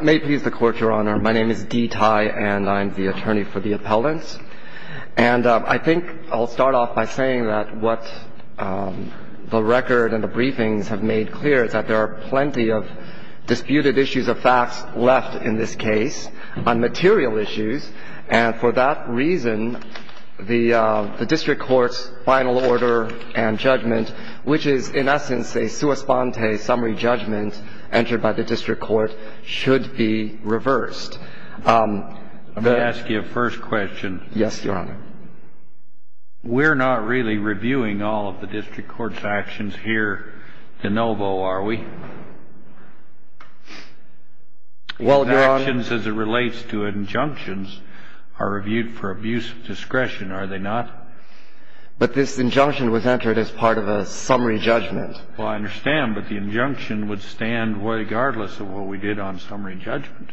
May it please the Court, Your Honor, my name is Dee Tai, and I'm the attorney for the appellants, and I think I'll start off by saying that what the record and the briefings have made clear is that there are plenty of disputed issues of facts left in this case on material issues, and for that reason, the District Court's final order and judgment, which is, in essence, a sua sponte summary judgment entered by the District Court, should be reversed. Let me ask you a first question. Yes, Your Honor. We're not really reviewing all of the District Court's actions here de novo, are we? Well, Your Honor. These actions, as it relates to injunctions, are reviewed for abuse of discretion, are they not? But this injunction was entered as part of a summary judgment. Well, I understand, but the injunction would stand regardless of what we did on summary judgment.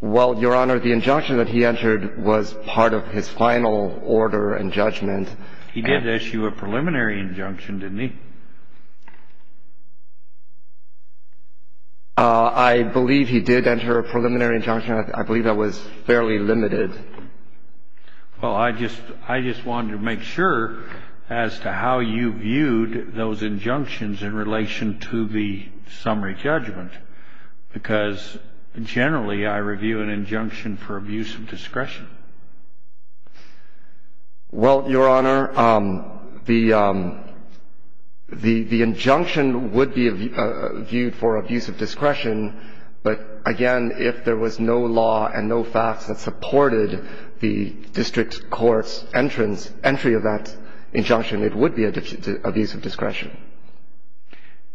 Well, Your Honor, the injunction that he entered was part of his final order and judgment. He did issue a preliminary injunction, didn't he? I believe he did enter a preliminary injunction. I believe that was fairly limited. Well, I just wanted to make sure as to how you viewed those injunctions in relation to the summary judgment, because generally I review an injunction for abuse of discretion. Well, Your Honor, the injunction would be viewed for abuse of discretion, but, again, if there was no law and no facts that supported the District Court's entrance, entry of that injunction, it would be abuse of discretion.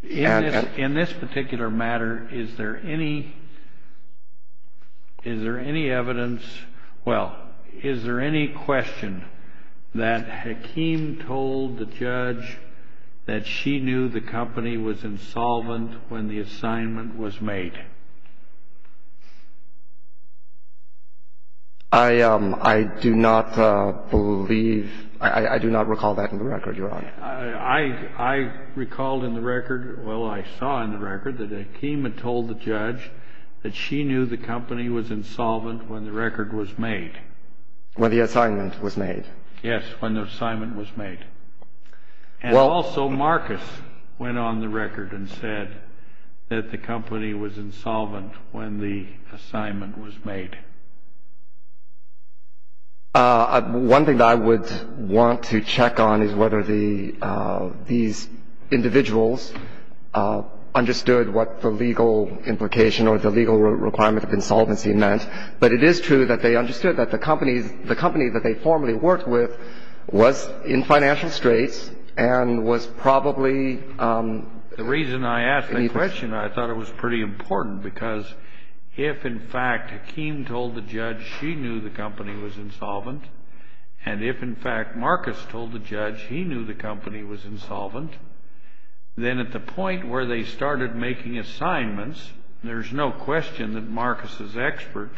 In this particular matter, is there any evidence, well, is there any question that Hakeem told the judge that she knew the company was insolvent when the assignment was made? I do not believe, I do not recall that in the record, Your Honor. I recalled in the record, well, I saw in the record that Hakeem had told the judge that she knew the company was insolvent when the record was made. When the assignment was made. Yes, when the assignment was made. And also Marcus went on the record and said that the company was insolvent when the assignment was made. One thing that I would want to check on is whether these individuals understood what the legal implication or the legal requirement of insolvency meant. But it is true that they understood that the company that they formerly worked with was in financial straits and was probably in need of ---- The reason I asked that question, I thought it was pretty important, because if, in fact, Hakeem told the judge she knew the company was insolvent, and if, in fact, Marcus told the judge he knew the company was insolvent, then at the point where they started making assignments, there's no question that Marcus's expert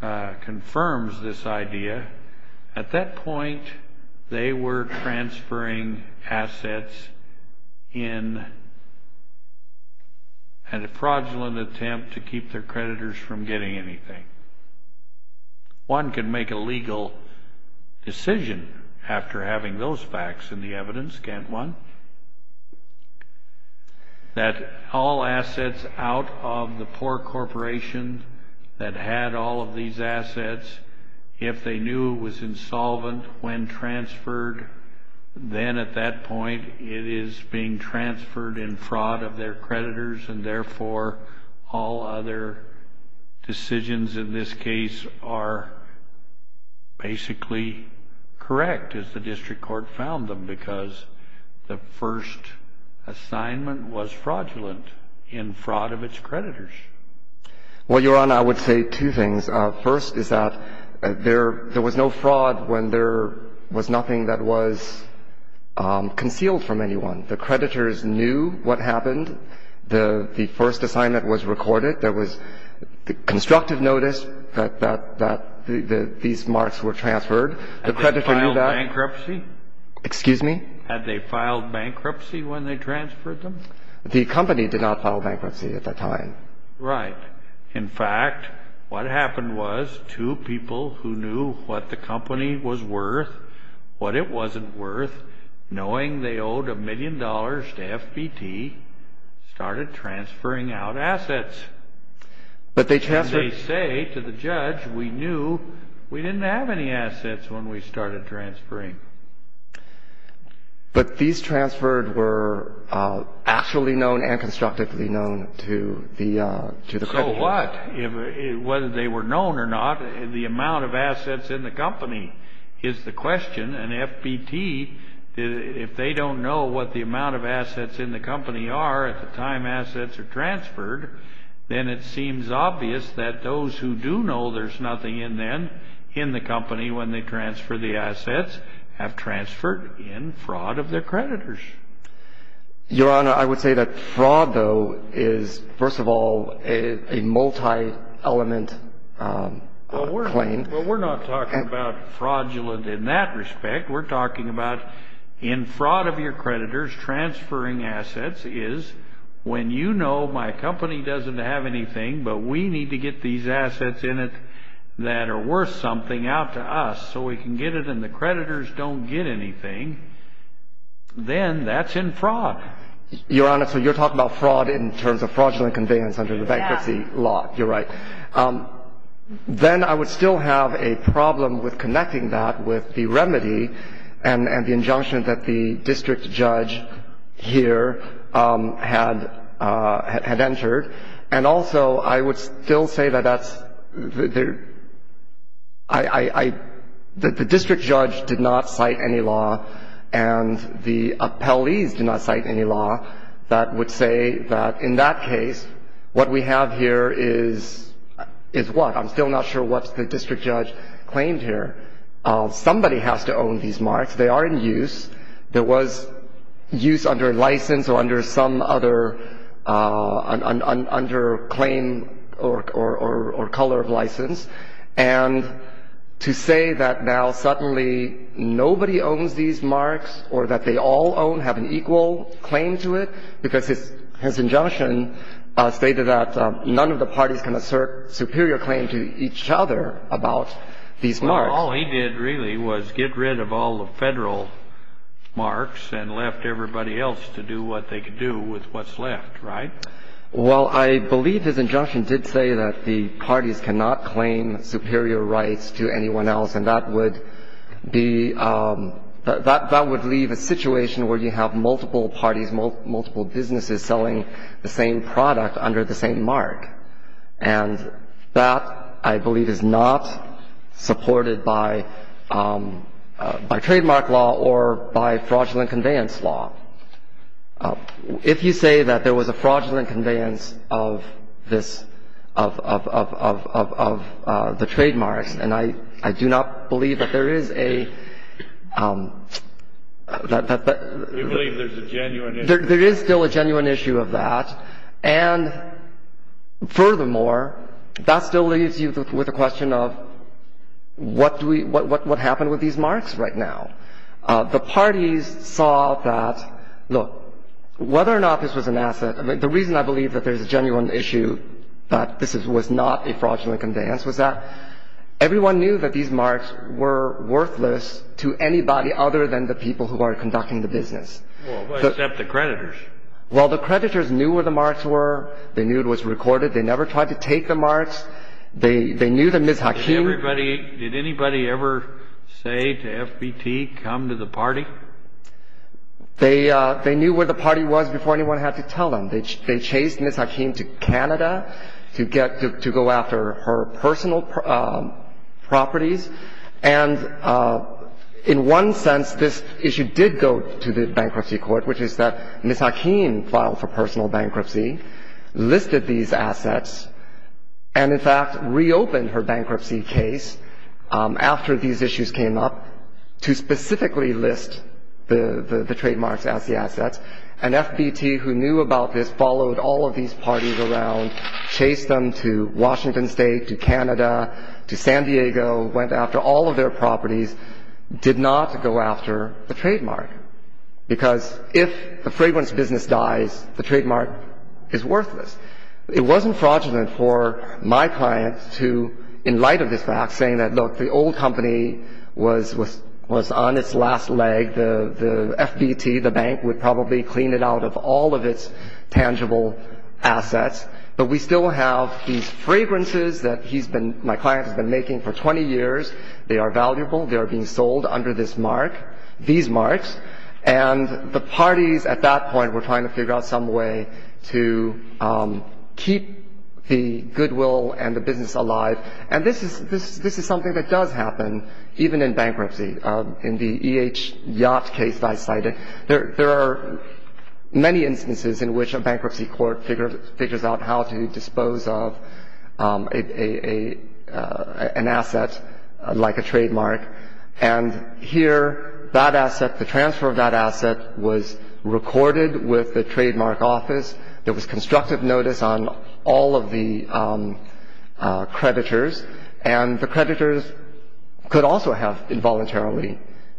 confirms this idea, at that point they were transferring assets in a fraudulent attempt to keep their creditors from getting anything. One can make a legal decision after having those facts in the evidence, can't one? That all assets out of the poor corporation that had all of these assets, if they knew it was insolvent when transferred, then at that point it is being transferred in fraud of their creditors, and therefore all other decisions in this case are basically correct, as the district court found them, because the first assignment was fraudulent in fraud of its creditors. Well, Your Honor, I would say two things. First is that there was no fraud when there was nothing that was concealed from anyone. The creditors knew what happened. The first assignment was recorded. There was constructive notice that these marks were transferred. Had they filed bankruptcy? Excuse me? Had they filed bankruptcy when they transferred them? The company did not file bankruptcy at that time. Right. In fact, what happened was two people who knew what the company was worth, what it wasn't worth, knowing they owed a million dollars to FBT, started transferring out assets. But they transferred. As they say to the judge, we knew we didn't have any assets when we started transferring. But these transferred were actually known and constructively known to the company. So what? Whether they were known or not, the amount of assets in the company is the question, and FBT, if they don't know what the amount of assets in the company are at the time assets are transferred, then it seems obvious that those who do know there's nothing in the company when they transfer the assets have transferred in fraud of their creditors. Your Honor, I would say that fraud, though, is, first of all, a multi-element claim. Well, we're not talking about fraudulent in that respect. We're talking about in fraud of your creditors transferring assets is when you know my company doesn't have anything, but we need to get these assets in it that are worth something out to us so we can get it, and the creditors don't get anything, then that's in fraud. Your Honor, so you're talking about fraud in terms of fraudulent conveyance under the bankruptcy law. Yes. You're right. Then I would still have a problem with connecting that with the remedy and the injunction that the district judge here had entered, and also I would still say that the district judge did not cite any law and the appellees did not cite any law that would say that in that case, what we have here is what? I'm still not sure what the district judge claimed here. Somebody has to own these marks. They are in use. There was use under license or under some other claim or color of license, and to say that now suddenly nobody owns these marks or that they all own, have an equal claim to it, because his injunction stated that none of the parties can assert superior claim to each other about these marks. Well, all he did really was get rid of all the Federal marks and left everybody else to do what they could do with what's left, right? Well, I believe his injunction did say that the parties cannot claim superior rights to anyone else, and that would be, that would leave a situation where you have multiple parties, multiple businesses selling the same product under the same mark, and that I believe is not supported by trademark law or by fraudulent conveyance law. If you say that there was a fraudulent conveyance of this, of the trademarks, and I do not believe that there is a — We believe there's a genuine issue. There is still a genuine issue of that. And furthermore, that still leaves you with a question of what do we — what happened with these marks right now? The parties saw that, look, whether or not this was an asset — I mean, the reason I believe that there's a genuine issue that this was not a fraudulent conveyance was that everyone knew that these marks were worthless to anybody other than the people who are conducting the business. Well, except the creditors. Well, the creditors knew where the marks were. They knew it was recorded. They never tried to take the marks. They knew that Ms. Hakim — Did anybody ever say to FBT, come to the party? They knew where the party was before anyone had to tell them. They chased Ms. Hakim to Canada to get — to go after her personal properties. And in one sense, this issue did go to the bankruptcy court, which is that Ms. Hakim filed for personal bankruptcy, listed these assets, and, in fact, reopened her bankruptcy case after these issues came up to specifically list the trademarks as the assets. And FBT, who knew about this, followed all of these parties around, chased them to Washington State, to Canada, to San Diego, went after all of their properties, did not go after the trademark. Because if the fragrance business dies, the trademark is worthless. It wasn't fraudulent for my client to, in light of this fact, saying that, look, the old company was on its last leg. The FBT, the bank, would probably clean it out of all of its tangible assets. But we still have these fragrances that he's been — my client has been making for 20 years. They are valuable. They are being sold under this mark. These marks. And the parties at that point were trying to figure out some way to keep the goodwill and the business alive. And this is something that does happen, even in bankruptcy. In the E.H. Yacht case that I cited, there are many instances in which a bankruptcy court figures out how to dispose of an asset like a trademark. And here that asset, the transfer of that asset, was recorded with the trademark office. There was constructive notice on all of the creditors. And the creditors could also have involuntarily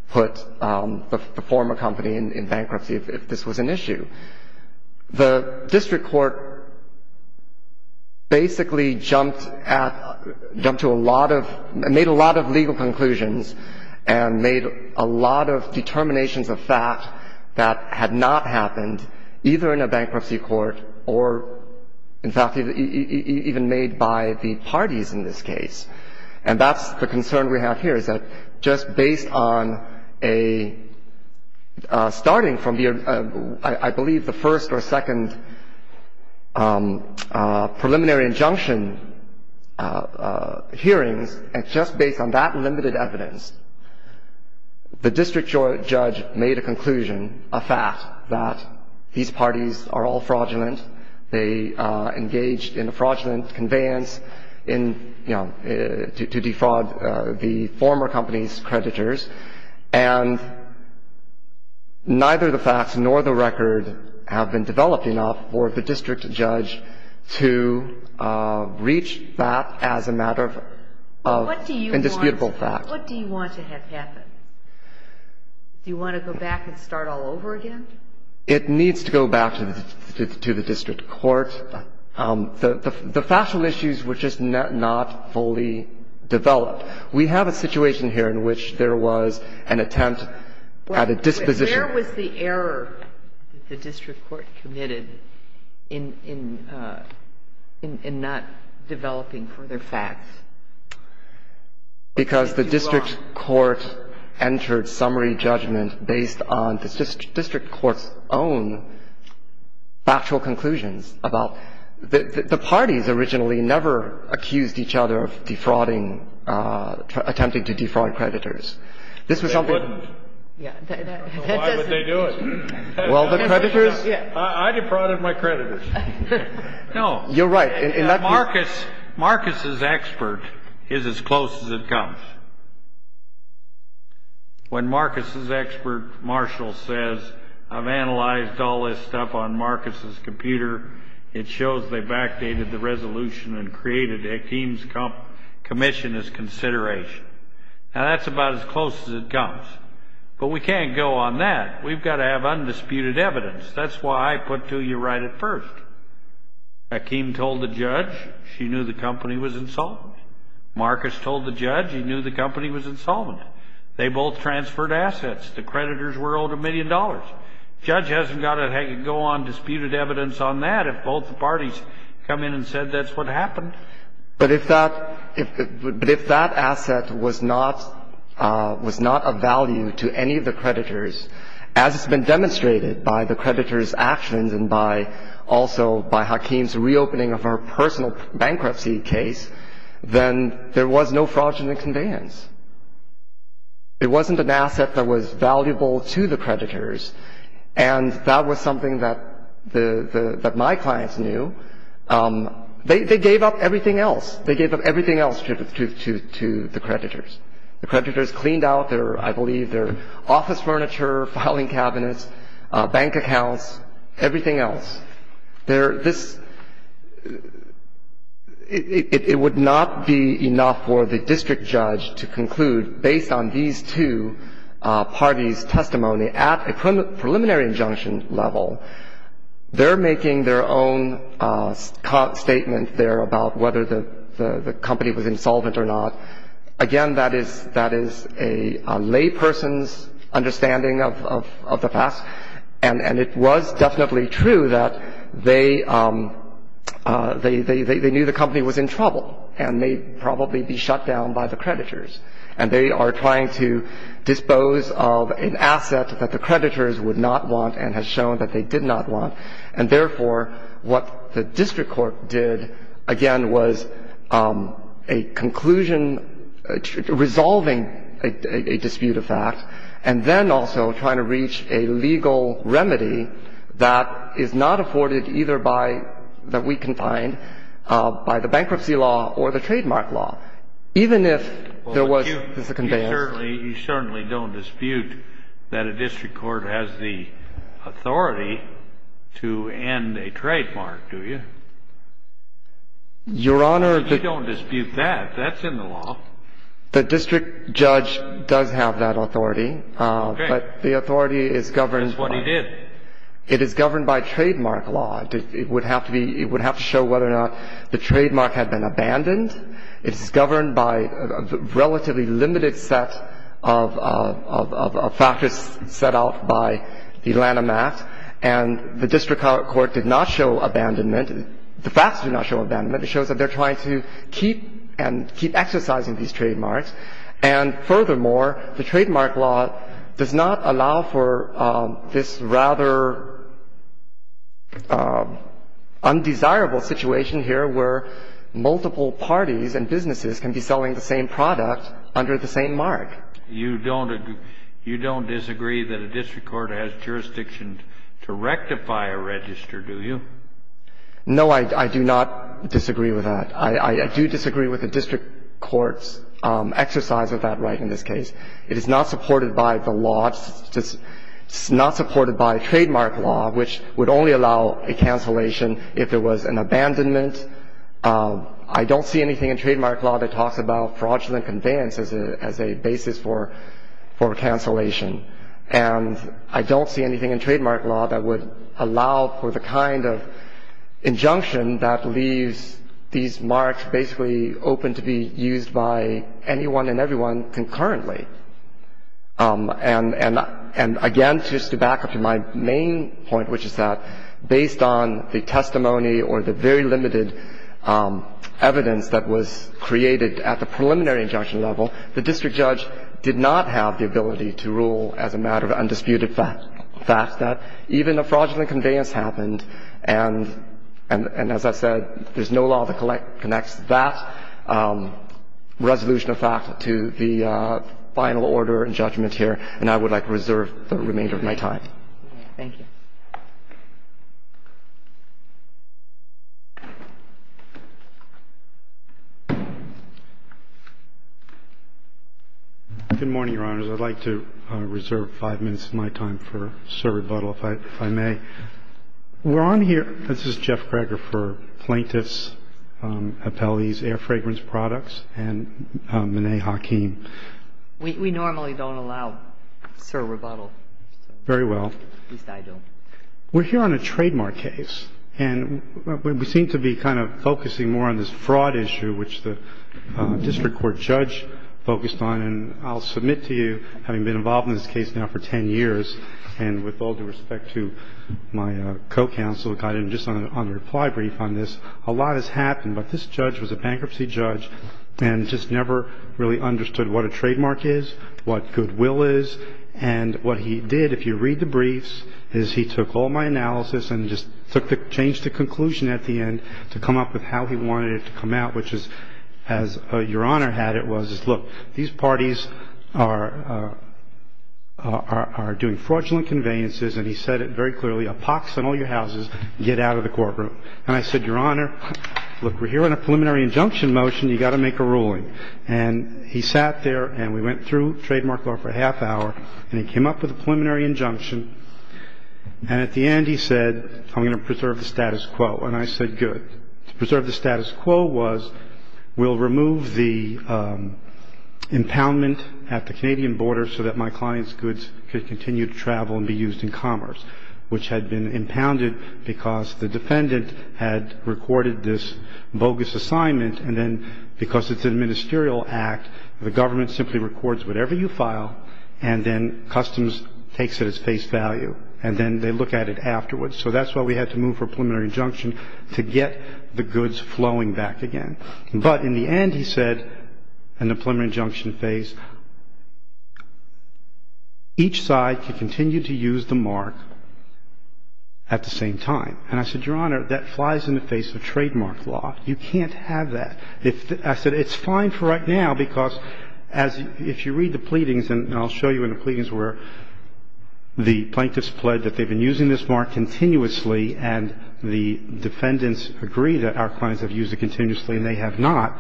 put the former company in bankruptcy if this was an issue. The district court basically jumped at — jumped to a lot of — made a lot of legal conclusions and made a lot of determinations of fact that had not happened either in a bankruptcy court or, in fact, even made by the parties in this case. And that's the concern we have here, is that just based on a — starting from, I believe, the first or second preliminary injunction hearings, and just based on that limited evidence, the district judge made a conclusion, a fact, that these parties are all fraudulent. They engaged in a fraudulent conveyance in — you know, to defraud the former company's creditors. And neither the facts nor the record have been developed enough for the district judge to reach that as a matter of indisputable fact. What do you want to have happen? Do you want to go back and start all over again? It needs to go back to the district court. The factual issues were just not fully developed. We have a situation here in which there was an attempt at a disposition. But where was the error that the district court committed in not developing further facts? Because the district court entered summary judgment based on the district court's own factual conclusions about — the parties originally never accused each other of defrauding — attempting to defraud creditors. This was something — They wouldn't. Why would they do it? Well, the creditors — I defrauded my creditors. No. You're right. Marcus's expert is as close as it comes. When Marcus's expert, Marshall, says, I've analyzed all this stuff on Marcus's computer, it shows they've backdated the resolution and created Hakeem's commission as consideration. Now, that's about as close as it comes. But we can't go on that. We've got to have undisputed evidence. That's why I put to you right at first. Hakeem told the judge she knew the company was insolvent. Marcus told the judge he knew the company was insolvent. They both transferred assets. The creditors were owed a million dollars. Judge hasn't got to go on disputed evidence on that if both the parties come in and said that's what happened. But if that — but if that asset was not — was not of value to any of the creditors, as has been demonstrated by the creditors' actions and also by Hakeem's reopening of her personal bankruptcy case, then there was no fraudulent conveyance. It wasn't an asset that was valuable to the creditors. And that was something that my clients knew. They gave up everything else. They gave up everything else to the creditors. The creditors cleaned out their — I believe their office furniture, filing cabinets, bank accounts, everything else. Their — this — it would not be enough for the district judge to conclude, based on these two parties' testimony, at a preliminary injunction level, they're making their own statement there about whether the company was insolvent or not. Again, that is — that is a layperson's understanding of the facts. And it was definitely true that they — they knew the company was in trouble and may probably be shut down by the creditors. And they are trying to dispose of an asset that the creditors would not want and has shown that they did not want. And therefore, what the district court did, again, was a conclusion — resolving a dispute of fact and then also trying to reach a legal remedy that is not afforded either by — that we can find by the bankruptcy law or the trademark law, even if there was a conveyance. You certainly — you certainly don't dispute that a district court has the authority to end a trademark, do you? Your Honor — You don't dispute that. That's in the law. The district judge does have that authority. Okay. But the authority is governed — That's what he did. It is governed by trademark law. It would have to be — it would have to show whether or not the trademark had been abandoned. It's governed by a relatively limited set of factors set out by the Lanham Act. And the district court did not show abandonment. The facts do not show abandonment. It shows that they're trying to keep and keep exercising these trademarks. And furthermore, the trademark law does not allow for this rather undesirable situation here where multiple parties and businesses can be selling the same product under the same mark. You don't — you don't disagree that a district court has jurisdiction to rectify a register, do you? No, I do not disagree with that. I do disagree with the district court's exercise of that right in this case. It is not supported by the law. It's not supported by trademark law, which would only allow a cancellation if there was an abandonment. I don't see anything in trademark law that talks about fraudulent conveyance as a basis for cancellation. And I don't see anything in trademark law that would allow for the kind of injunction that leaves these marks basically open to be used by anyone and everyone concurrently. And again, just to back up to my main point, which is that based on the testimony or the very limited evidence that was created at the preliminary injunction level, the district judge did not have the ability to rule as a matter of undisputed fact that even a fraudulent conveyance happened. And as I said, there's no law that connects that resolution of fact to the final order and judgment here. And I would like to reserve the remainder of my time. Thank you. Good morning, Your Honors. I'd like to reserve five minutes of my time for Sir Rebuttal, if I may. We're on here – this is Jeff Greger for Plaintiffs' Appellees' Air Fragrance Products and Monee Hakeem. We normally don't allow Sir Rebuttal. Very well. At least I don't. We're here on a trademark case, and we seem to be kind of focusing more on this fraud issue, which the district court judge focused on. And I'll submit to you, having been involved in this case now for 10 years, and with all due respect to my co-counsel, who guided me just on a reply brief on this, a lot has happened. But this judge was a bankruptcy judge and just never really understood what a trademark is, what goodwill is. And what he did, if you read the briefs, is he took all my analysis and just took the – changed the conclusion at the end to come up with how he wanted it to come out, which is, as Your Honor had it, was, look, these parties are doing fraudulent conveyances. And he said it very clearly. Epox on all your houses. Get out of the courtroom. And I said, Your Honor, look, we're here on a preliminary injunction motion. You've got to make a ruling. And he sat there, and we went through trademark law for a half hour. And he came up with a preliminary injunction. And at the end, he said, I'm going to preserve the status quo. And I said, good. To preserve the status quo was we'll remove the impoundment at the Canadian border so that my client's goods could continue to travel and be used in commerce, which had been impounded because the defendant had recorded this bogus assignment. And then because it's an administerial act, the government simply records whatever you file, and then customs takes it as face value. And then they look at it afterwards. So that's why we had to move for a preliminary injunction to get the goods flowing back again. But in the end, he said, in the preliminary injunction phase, each side could continue to use the mark at the same time. And I said, Your Honor, that flies in the face of trademark law. You can't have that. I said it's fine for right now because if you read the pleadings, and I'll show you in the pleadings where the plaintiffs pled that they've been using this mark continuously and the defendants agree that our clients have used it continuously and they have not,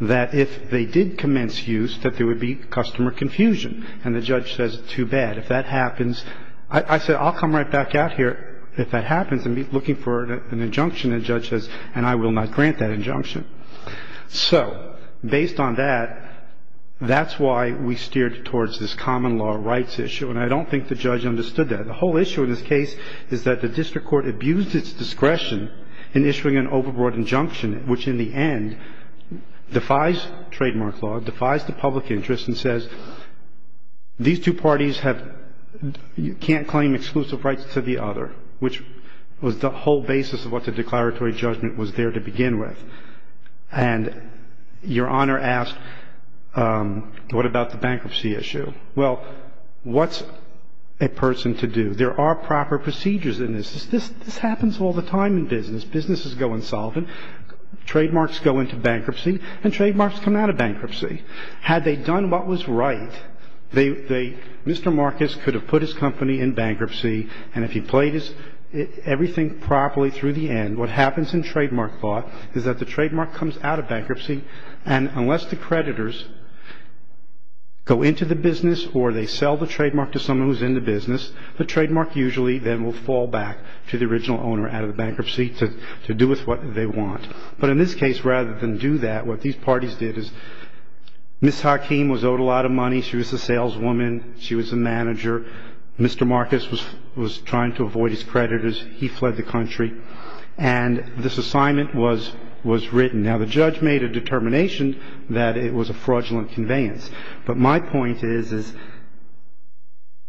that if they did commence use, that there would be customer confusion. And the judge says, too bad. If that happens, I said, I'll come right back out here if that happens and be looking for an injunction. And the judge says, and I will not grant that injunction. So based on that, that's why we steered towards this common law rights issue, and I don't think the judge understood that. The whole issue in this case is that the district court abused its discretion in issuing an overboard injunction, which in the end defies trademark law, defies the public interest, and says these two parties can't claim exclusive rights to the other, which was the whole basis of what the declaratory judgment was there to begin with. And Your Honor asked, what about the bankruptcy issue? Well, what's a person to do? There are proper procedures in this. This happens all the time in business. Businesses go insolvent. Trademarks go into bankruptcy, and trademarks come out of bankruptcy. Had they done what was right, Mr. Marcus could have put his company in bankruptcy, and if he played everything properly through the end, what happens in trademark law is that the trademark comes out of bankruptcy, and unless the creditors go into the business or they sell the trademark to someone who's in the business, the trademark usually then will fall back to the original owner out of the bankruptcy to do with what they want. But in this case, rather than do that, what these parties did is Ms. Hakeem was owed a lot of money. She was a saleswoman. She was a manager. Mr. Marcus was trying to avoid his creditors. He fled the country, and this assignment was written. Now, the judge made a determination that it was a fraudulent conveyance, but my point is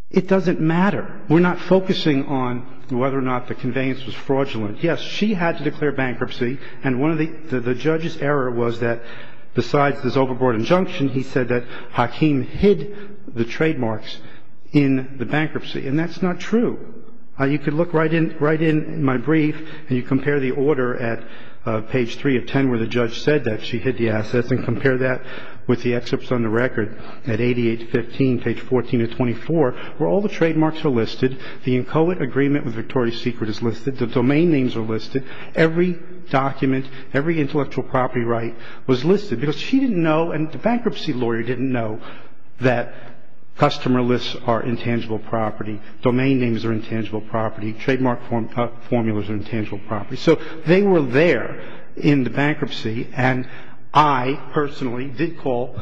it doesn't matter. We're not focusing on whether or not the conveyance was fraudulent. Yes, she had to declare bankruptcy, and the judge's error was that besides this overboard injunction, he said that Hakeem hid the trademarks in the bankruptcy, and that's not true. You could look right in my brief, and you compare the order at page 3 of 10 where the judge said that she hid the assets and compare that with the excerpts on the record at 88 to 15, page 14 to 24, where all the trademarks are listed. The inchoate agreement with Victoria's Secret is listed. The domain names are listed. Every document, every intellectual property right was listed because she didn't know and the bankruptcy lawyer didn't know that customer lists are intangible property. Domain names are intangible property. Trademark formulas are intangible property. So they were there in the bankruptcy, and I personally did call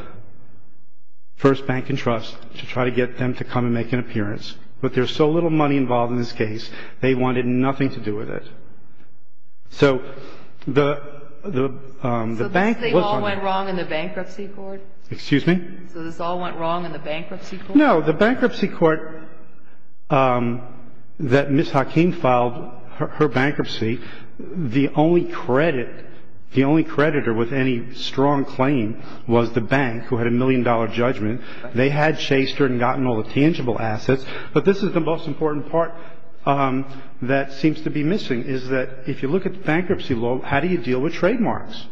First Bank and Trust to try to get them to come and make an appearance, but there's so little money involved in this case, they wanted nothing to do with it. So the bank was on the case. So this all went wrong in the bankruptcy court? Excuse me? So this all went wrong in the bankruptcy court? No, the bankruptcy court that Ms. Hakeem filed her bankruptcy, the only credit, the only creditor with any strong claim was the bank who had a million-dollar judgment. They had chased her and gotten all the tangible assets, but this is the most important part that seems to be missing is that if you look at the bankruptcy law, how do you deal with trademarks?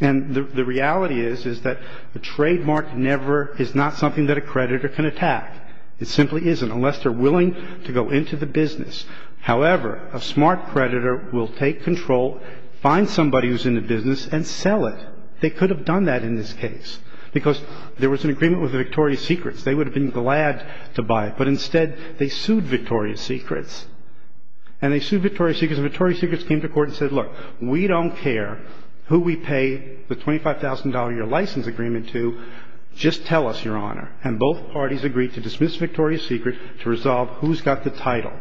And the reality is is that a trademark never is not something that a creditor can attack. It simply isn't unless they're willing to go into the business. However, a smart creditor will take control, find somebody who's in the business, and sell it. They could have done that in this case because there was an agreement with Victoria's Secrets. They would have been glad to buy it, but instead they sued Victoria's Secrets. And they sued Victoria's Secrets, and Victoria's Secrets came to court and said, look, we don't care who we pay the $25,000 a year license agreement to, just tell us, Your Honor. And both parties agreed to dismiss Victoria's Secrets to resolve who's got the title.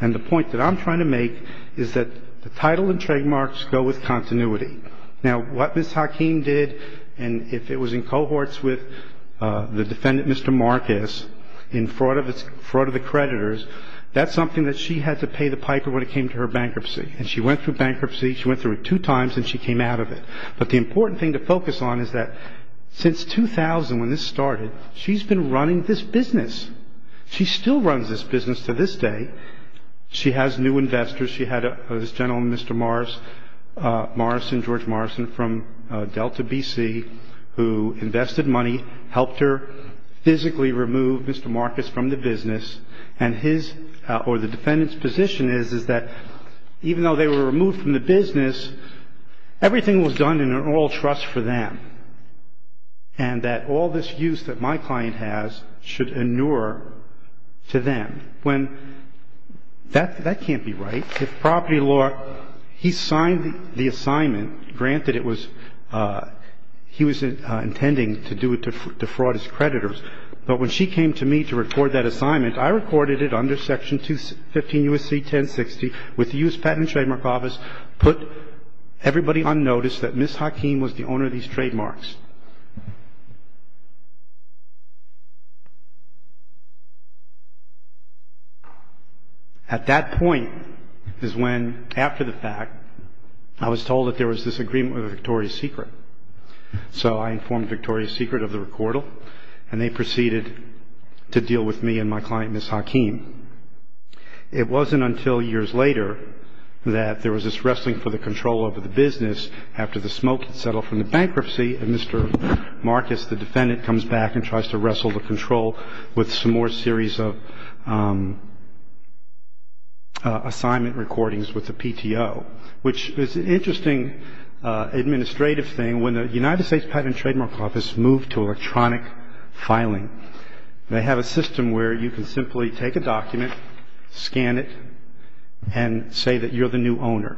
And the point that I'm trying to make is that the title and trademarks go with continuity. Now, what Ms. Hakeem did, and if it was in cohorts with the defendant, Mr. Marcus, in fraud of the creditors, that's something that she had to pay the piper when it came to her bankruptcy. And she went through bankruptcy, she went through it two times, and she came out of it. But the important thing to focus on is that since 2000, when this started, she's been running this business. She still runs this business to this day. She has new investors. She had this gentleman, Mr. Morris, Morris and George Morrison from Delta, B.C., who invested money, helped her physically remove Mr. Marcus from the business. And his, or the defendant's position is, is that even though they were removed from the business, everything was done in an oral trust for them, and that all this use that my client has should inure to them. When, that can't be right. If property law, he signed the assignment, granted it was, he was intending to do it to fraud his creditors. But when she came to me to record that assignment, I recorded it under Section 215 U.S.C. 1060 with the U.S. Patent and Trademark Office, put everybody on notice that Ms. Hakeem was the owner of these trademarks. At that point is when, after the fact, I was told that there was this agreement with Victoria's Secret. So I informed Victoria's Secret of the recordal, and they proceeded to deal with me and my client, Ms. Hakeem. It wasn't until years later that there was this wrestling for the control over the business after the smoke had settled from the bankruptcy, and Mr. Marcus, the defendant, comes back and tries to wrestle the control with some more series of assignment recordings with the PTO, which is an interesting administrative thing. When the United States Patent and Trademark Office moved to electronic filing, they have a system where you can simply take a document, scan it, and say that you're the new owner.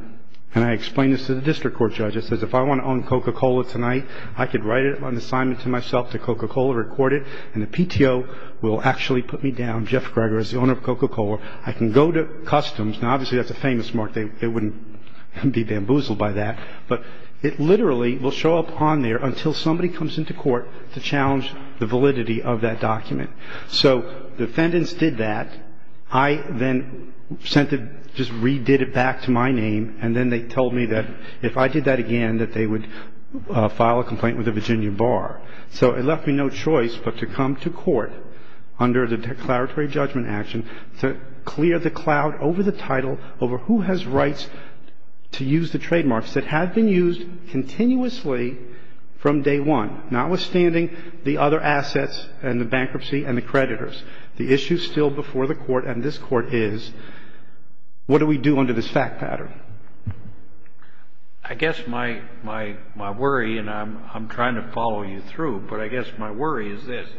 And I explained this to the district court judge. I said, if I want to own Coca-Cola tonight, I could write an assignment to myself to Coca-Cola, record it, and the PTO will actually put me down, Jeff Greger is the owner of Coca-Cola. I can go to customs. Now, obviously, that's a famous mark. They wouldn't be bamboozled by that. But it literally will show up on there until somebody comes into court to challenge the validity of that document. So defendants did that. I then sent it, just redid it back to my name, and then they told me that if I did that again, that they would file a complaint with the Virginia Bar. So it left me no choice but to come to court under the declaratory judgment action to clear the cloud over the title, over who has rights to use the trademarks that have been used continuously from day one, notwithstanding the other assets and the bankruptcy and the creditors. The issue is still before the court, and this court is, what do we do under this fact pattern? I guess my worry, and I'm trying to follow you through, but I guess my worry is this.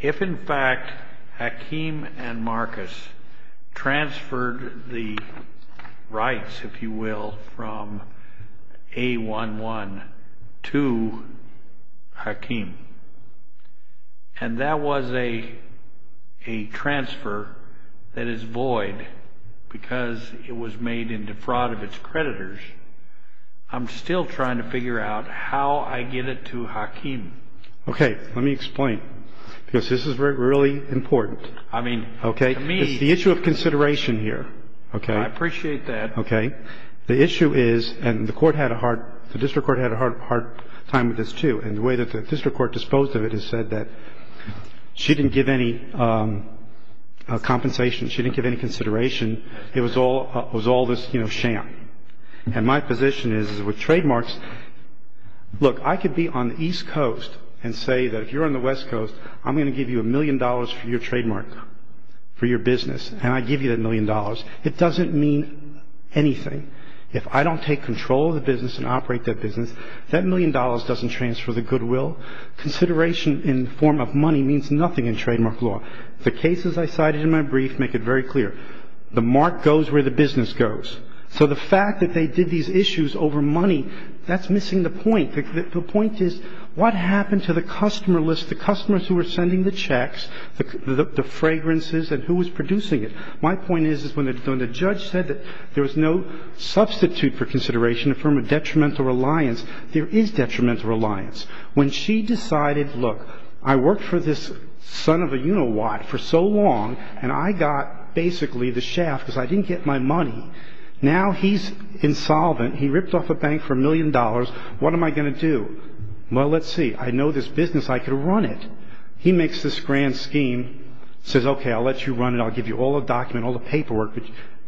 If, in fact, Hakeem and Marcus transferred the rights, if you will, from A11 to Hakeem, and that was a transfer that is void because it was made in defraud of its creditors, I'm still trying to figure out how I get it to Hakeem. Okay. Let me explain, because this is really important. I mean, to me... It's the issue of consideration here. I appreciate that. Okay. The issue is, and the court had a hard, the district court had a hard time with this, too, and the way that the district court disposed of it is said that she didn't give any compensation, she didn't give any consideration. It was all this, you know, sham. And my position is with trademarks, look, I could be on the East Coast and say that if you're on the West Coast, I'm going to give you a million dollars for your trademark, for your business, and I give you that million dollars. It doesn't mean anything. If I don't take control of the business and operate that business, that million dollars doesn't transfer the goodwill. Consideration in the form of money means nothing in trademark law. The cases I cited in my brief make it very clear. The mark goes where the business goes. So the fact that they did these issues over money, that's missing the point. The point is what happened to the customer list, the customers who were sending the checks, the fragrances, and who was producing it? My point is when the judge said that there was no substitute for consideration in the form of detrimental reliance, there is detrimental reliance. When she decided, look, I worked for this son of a, you know what, for so long, and I got basically the shaft because I didn't get my money. Now he's insolvent. He ripped off a bank for a million dollars. What am I going to do? Well, let's see. I know this business. I could run it. He makes this grand scheme, says, okay, I'll let you run it. I'll give you all the document, all the paperwork.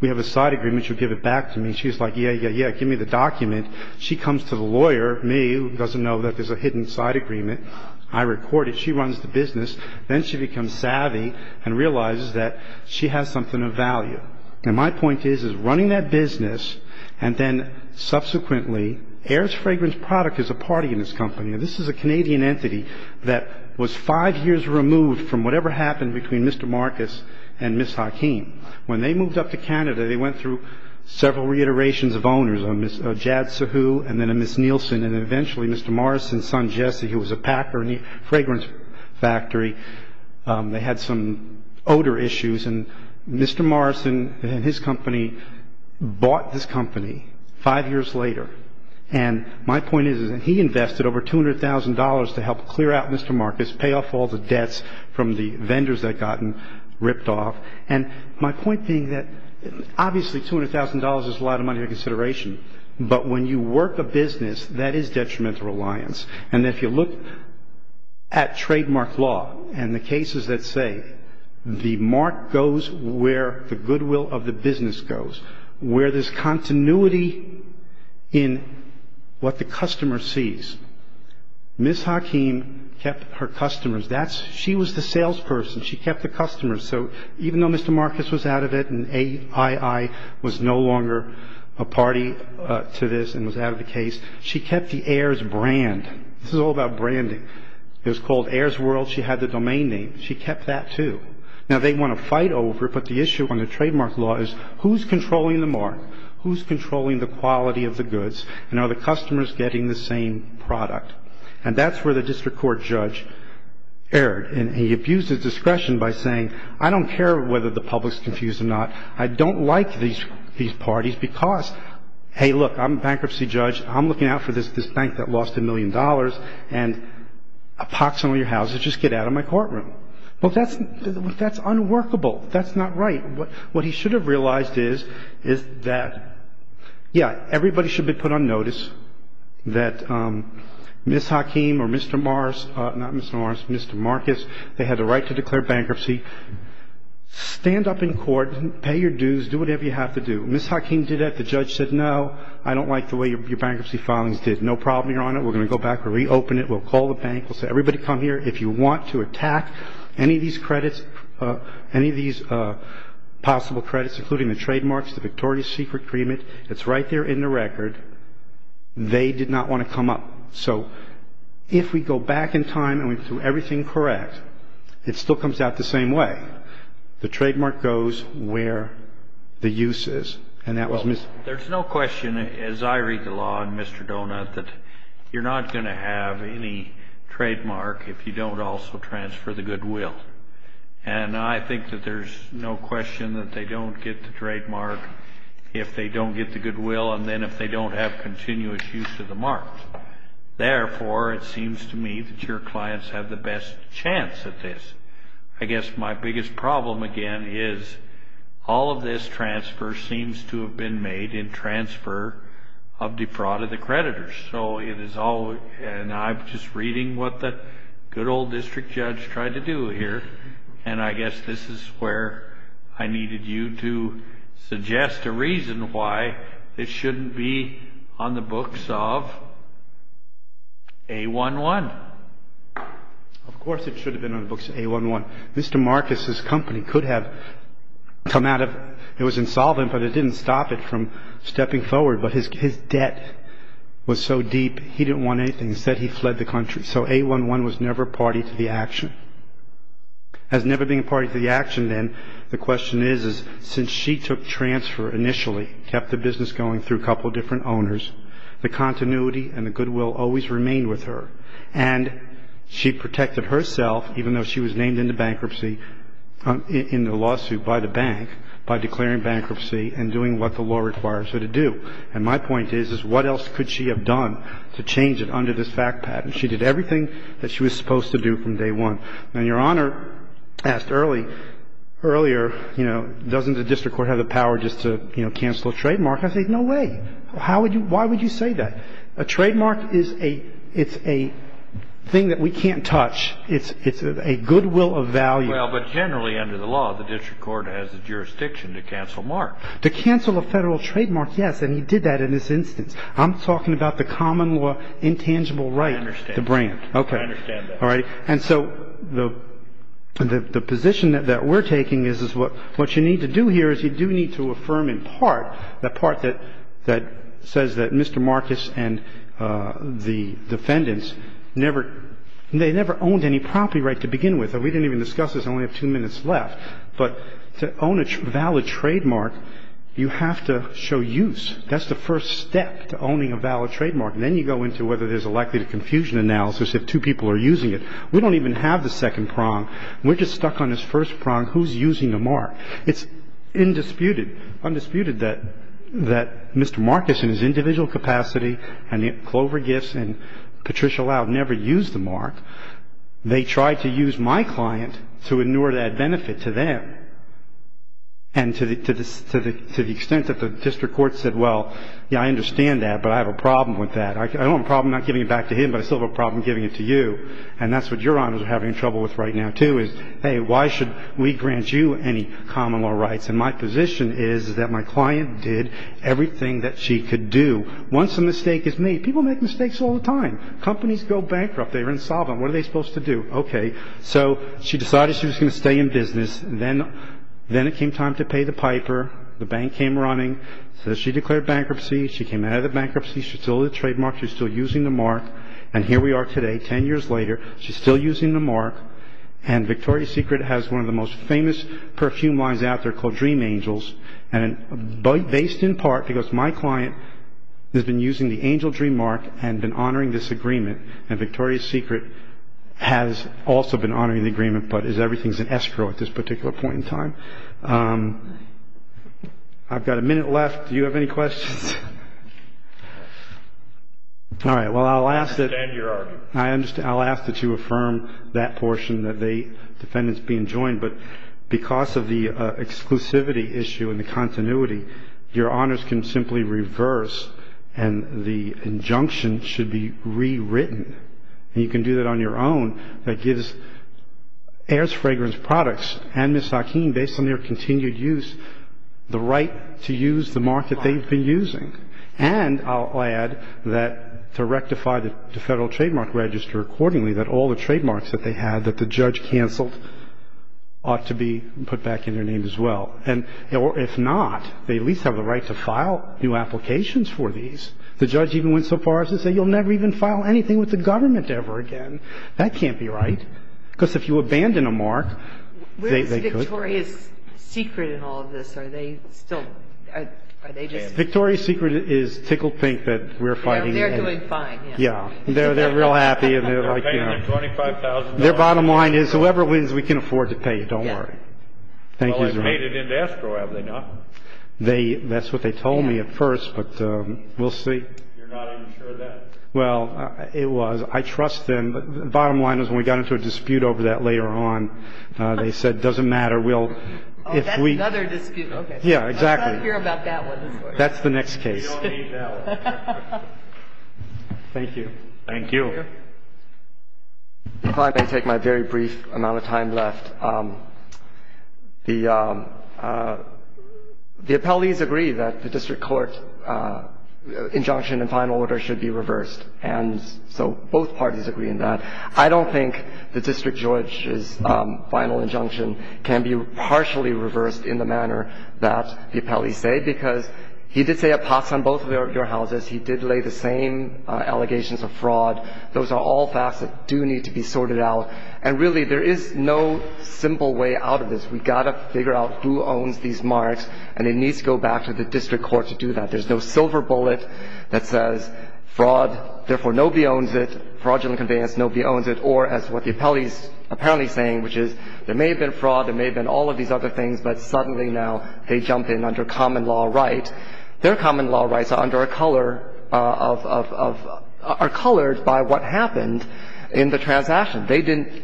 We have a side agreement. You give it back to me. She's like, yeah, yeah, yeah, give me the document. She comes to the lawyer, me, who doesn't know that there's a hidden side agreement. I record it. She runs the business. Then she becomes savvy and realizes that she has something of value. And my point is, is running that business and then subsequently, Heirs Fragrance Product is a party in this company. Now this is a Canadian entity that was five years removed from whatever happened between Mr. Marcus and Ms. Hakeem. When they moved up to Canada, they went through several reiterations of owners, a Ms. Jad Sahu and then a Ms. Nielsen, and then eventually Mr. Morrison's son, Jesse, who was a packer in the fragrance factory. They had some odor issues, and Mr. Morrison and his company bought this company five years later. And my point is that he invested over $200,000 to help clear out Mr. Marcus, pay off all the debts from the vendors that had gotten ripped off. And my point being that obviously $200,000 is a lot of money to consideration, but when you work a business, that is detrimental reliance. And if you look at trademark law and the cases that say the mark goes where the goodwill of the business goes, where there's continuity in what the customer sees, Ms. Hakeem kept her customers. She was the salesperson. She kept the customers. So even though Mr. Marcus was out of it and AII was no longer a party to this and was out of the case, she kept the Heirs brand. This is all about branding. It was called Heirs World. She had the domain name. She kept that, too. Now, they want to fight over, but the issue on the trademark law is who's controlling the mark, who's controlling the quality of the goods, and are the customers getting the same product? And that's where the district court judge erred, and he abused his discretion by saying, I don't care whether the public's confused or not. I don't like these parties because, hey, look, I'm a bankruptcy judge. I'm looking out for this bank that lost a million dollars, and pox on your houses. Just get out of my courtroom. Well, that's unworkable. That's not right. What he should have realized is that, yeah, everybody should be put on notice that Ms. Hakeem or Mr. Morris, not Mr. Morris, Mr. Marcus, they had the right to declare bankruptcy. Stand up in court. Pay your dues. Do whatever you have to do. Ms. Hakeem did that. The judge said, no, I don't like the way your bankruptcy filings did. No problem, Your Honor. We're going to go back and reopen it. We'll call the bank. We'll say, everybody come here. If you want to attack any of these credits, any of these possible credits, including the trademarks, the Victoria's secret agreement, it's right there in the record. They did not want to come up. So if we go back in time and we do everything correct, it still comes out the same way. The trademark goes where the use is. And that was Ms. ---- There's no question, as I read the law in Mr. Donut, that you're not going to have any trademark if you don't also transfer the goodwill. And I think that there's no question that they don't get the trademark if they don't get the goodwill, and then if they don't have continuous use of the mark. Therefore, it seems to me that your clients have the best chance at this. I guess my biggest problem, again, is all of this transfer seems to have been made in transfer of defraud of the creditors. So it is all, and I'm just reading what the good old district judge tried to do here, and I guess this is where I needed you to suggest a reason why this shouldn't be on the books of A-1-1. Of course it should have been on the books of A-1-1. Mr. Marcus's company could have come out of ---- It was insolvent, but it didn't stop it from stepping forward. But his debt was so deep, he didn't want anything. He said he fled the country. So A-1-1 was never a party to the action. As never being a party to the action, then, the question is, since she took transfer initially, kept the business going through a couple of different owners, the continuity and the goodwill always remained with her. And she protected herself, even though she was named into bankruptcy in the lawsuit by the bank, by declaring bankruptcy and doing what the law requires her to do. And my point is, is what else could she have done to change it under this fact pattern? She did everything that she was supposed to do from day one. Now, Your Honor asked earlier, you know, doesn't the district court have the power just to, you know, cancel a trademark? I say, no way. Why would you say that? A trademark is a thing that we can't touch. It's a goodwill of value. Well, but generally under the law, the district court has the jurisdiction to cancel marks. To cancel a federal trademark, yes. And he did that in this instance. I'm talking about the common law intangible right. I understand. The brand. I understand that. All right. And so the position that we're taking is what you need to do here is you do need to affirm in part that part that says that Mr. Marcus and the defendants never, they never owned any property right to begin with. And we didn't even discuss this. I only have two minutes left. But to own a valid trademark, you have to show use. That's the first step to owning a valid trademark. And then you go into whether there's a likelihood of confusion analysis if two people are using it. We don't even have the second prong. We're just stuck on this first prong. Who's using a mark? It's indisputed, undisputed that Mr. Marcus in his individual capacity and Clover Gifts and Patricia Loud never used the mark. They tried to use my client to inure that benefit to them. And to the extent that the district court said, well, yeah, I understand that, but I have a problem with that. I don't have a problem not giving it back to him, but I still have a problem giving it to you. And that's what your honors are having trouble with right now, too, is, hey, why should we grant you any common law rights? And my position is that my client did everything that she could do. Once a mistake is made, people make mistakes all the time. Companies go bankrupt. They're insolvent. What are they supposed to do? Okay. So she decided she was going to stay in business. Then it came time to pay the piper. The bank came running. So she declared bankruptcy. She came out of the bankruptcy. She stole the trademark. She was still using the mark. And here we are today, 10 years later, she's still using the mark. And Victoria's Secret has one of the most famous perfume lines out there called Dream Angels. And based in part because my client has been using the Angel Dream mark and been honoring this agreement. And Victoria's Secret has also been honoring the agreement, but everything's in escrow at this particular point in time. I've got a minute left. Do you have any questions? All right. Well, I'll ask that you affirm that portion that the defendant's being joined. But because of the exclusivity issue and the continuity, your honors can simply reverse and the injunction should be rewritten. And you can do that on your own. That gives Heirs Fragrance Products and Ms. Hakeem, based on their continued use, the right to use the mark that they've been using. And I'll add that to rectify the Federal Trademark Register accordingly, that all the trademarks that they had that the judge canceled ought to be put back in their name as well. And if not, they at least have the right to file new applications for these. The judge even went so far as to say you'll never even file anything with the government ever again. That can't be right. Because if you abandon a mark, they could. Where is Victoria's Secret in all of this? Are they still at the agency? Victoria's Secret is tickled pink that we're fighting. They're doing fine. Yeah. They're real happy. They're paying them $25,000. Their bottom line is whoever wins, we can afford to pay it. Don't worry. Well, they've paid it into escrow, have they not? That's what they told me at first, but we'll see. You're not even sure of that? Well, it was. I trust them. The bottom line is when we got into a dispute over that later on, they said it doesn't matter. Oh, that's another dispute. Okay. Yeah, exactly. I don't care about that one. That's the next case. We don't need that one. Thank you. Thank you. If I may take my very brief amount of time left. The appellees agree that the district court injunction and final order should be reversed, and so both parties agree on that. I don't think the district judge's final injunction can be partially reversed in the manner that the appellees say because he did say a pass on both of your houses. He did lay the same allegations of fraud. Those are all facts that do need to be sorted out, and really there is no simple way out of this. We've got to figure out who owns these marks, and it needs to go back to the district court to do that. There's no silver bullet that says fraud, therefore nobody owns it, fraudulent conveyance, nobody owns it, or as what the appellee's apparently saying, which is there may have been fraud, there may have been all of these other things, but suddenly now they jump in under common law right. Their common law rights are under a color of, are colored by what happened in the transaction. They didn't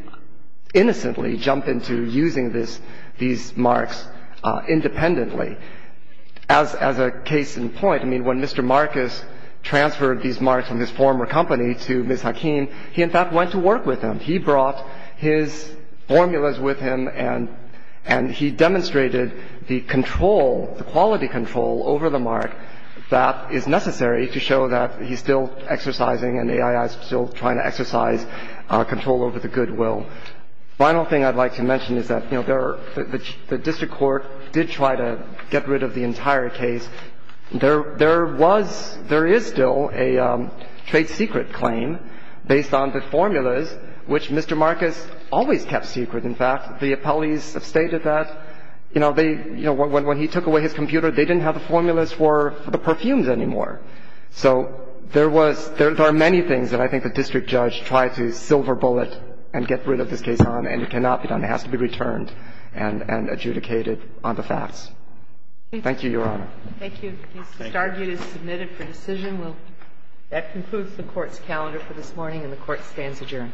innocently jump into using this, these marks independently. As a case in point, I mean, when Mr. Marcus transferred these marks from his former company to Ms. Hakeem, he in fact went to work with him. He brought his formulas with him and he demonstrated the control, the quality control over the mark that is necessary to show that he's still exercising and AII is still trying to exercise control over the goodwill. The final thing I'd like to mention is that, you know, the district court did try to get rid of the entire case. There was, there is still a trade secret claim based on the formulas, which Mr. Marcus always kept secret, in fact. The appellees have stated that, you know, they, you know, when he took away his computer, they didn't have the formulas for the perfumes anymore. So there was, there are many things that I think the district judge tried to silver bullet and get rid of this case on and it cannot be done. It has to be returned and adjudicated on the facts. Thank you, Your Honor. Thank you. This is argued and submitted for decision. That concludes the Court's calendar for this morning and the Court stands adjourned.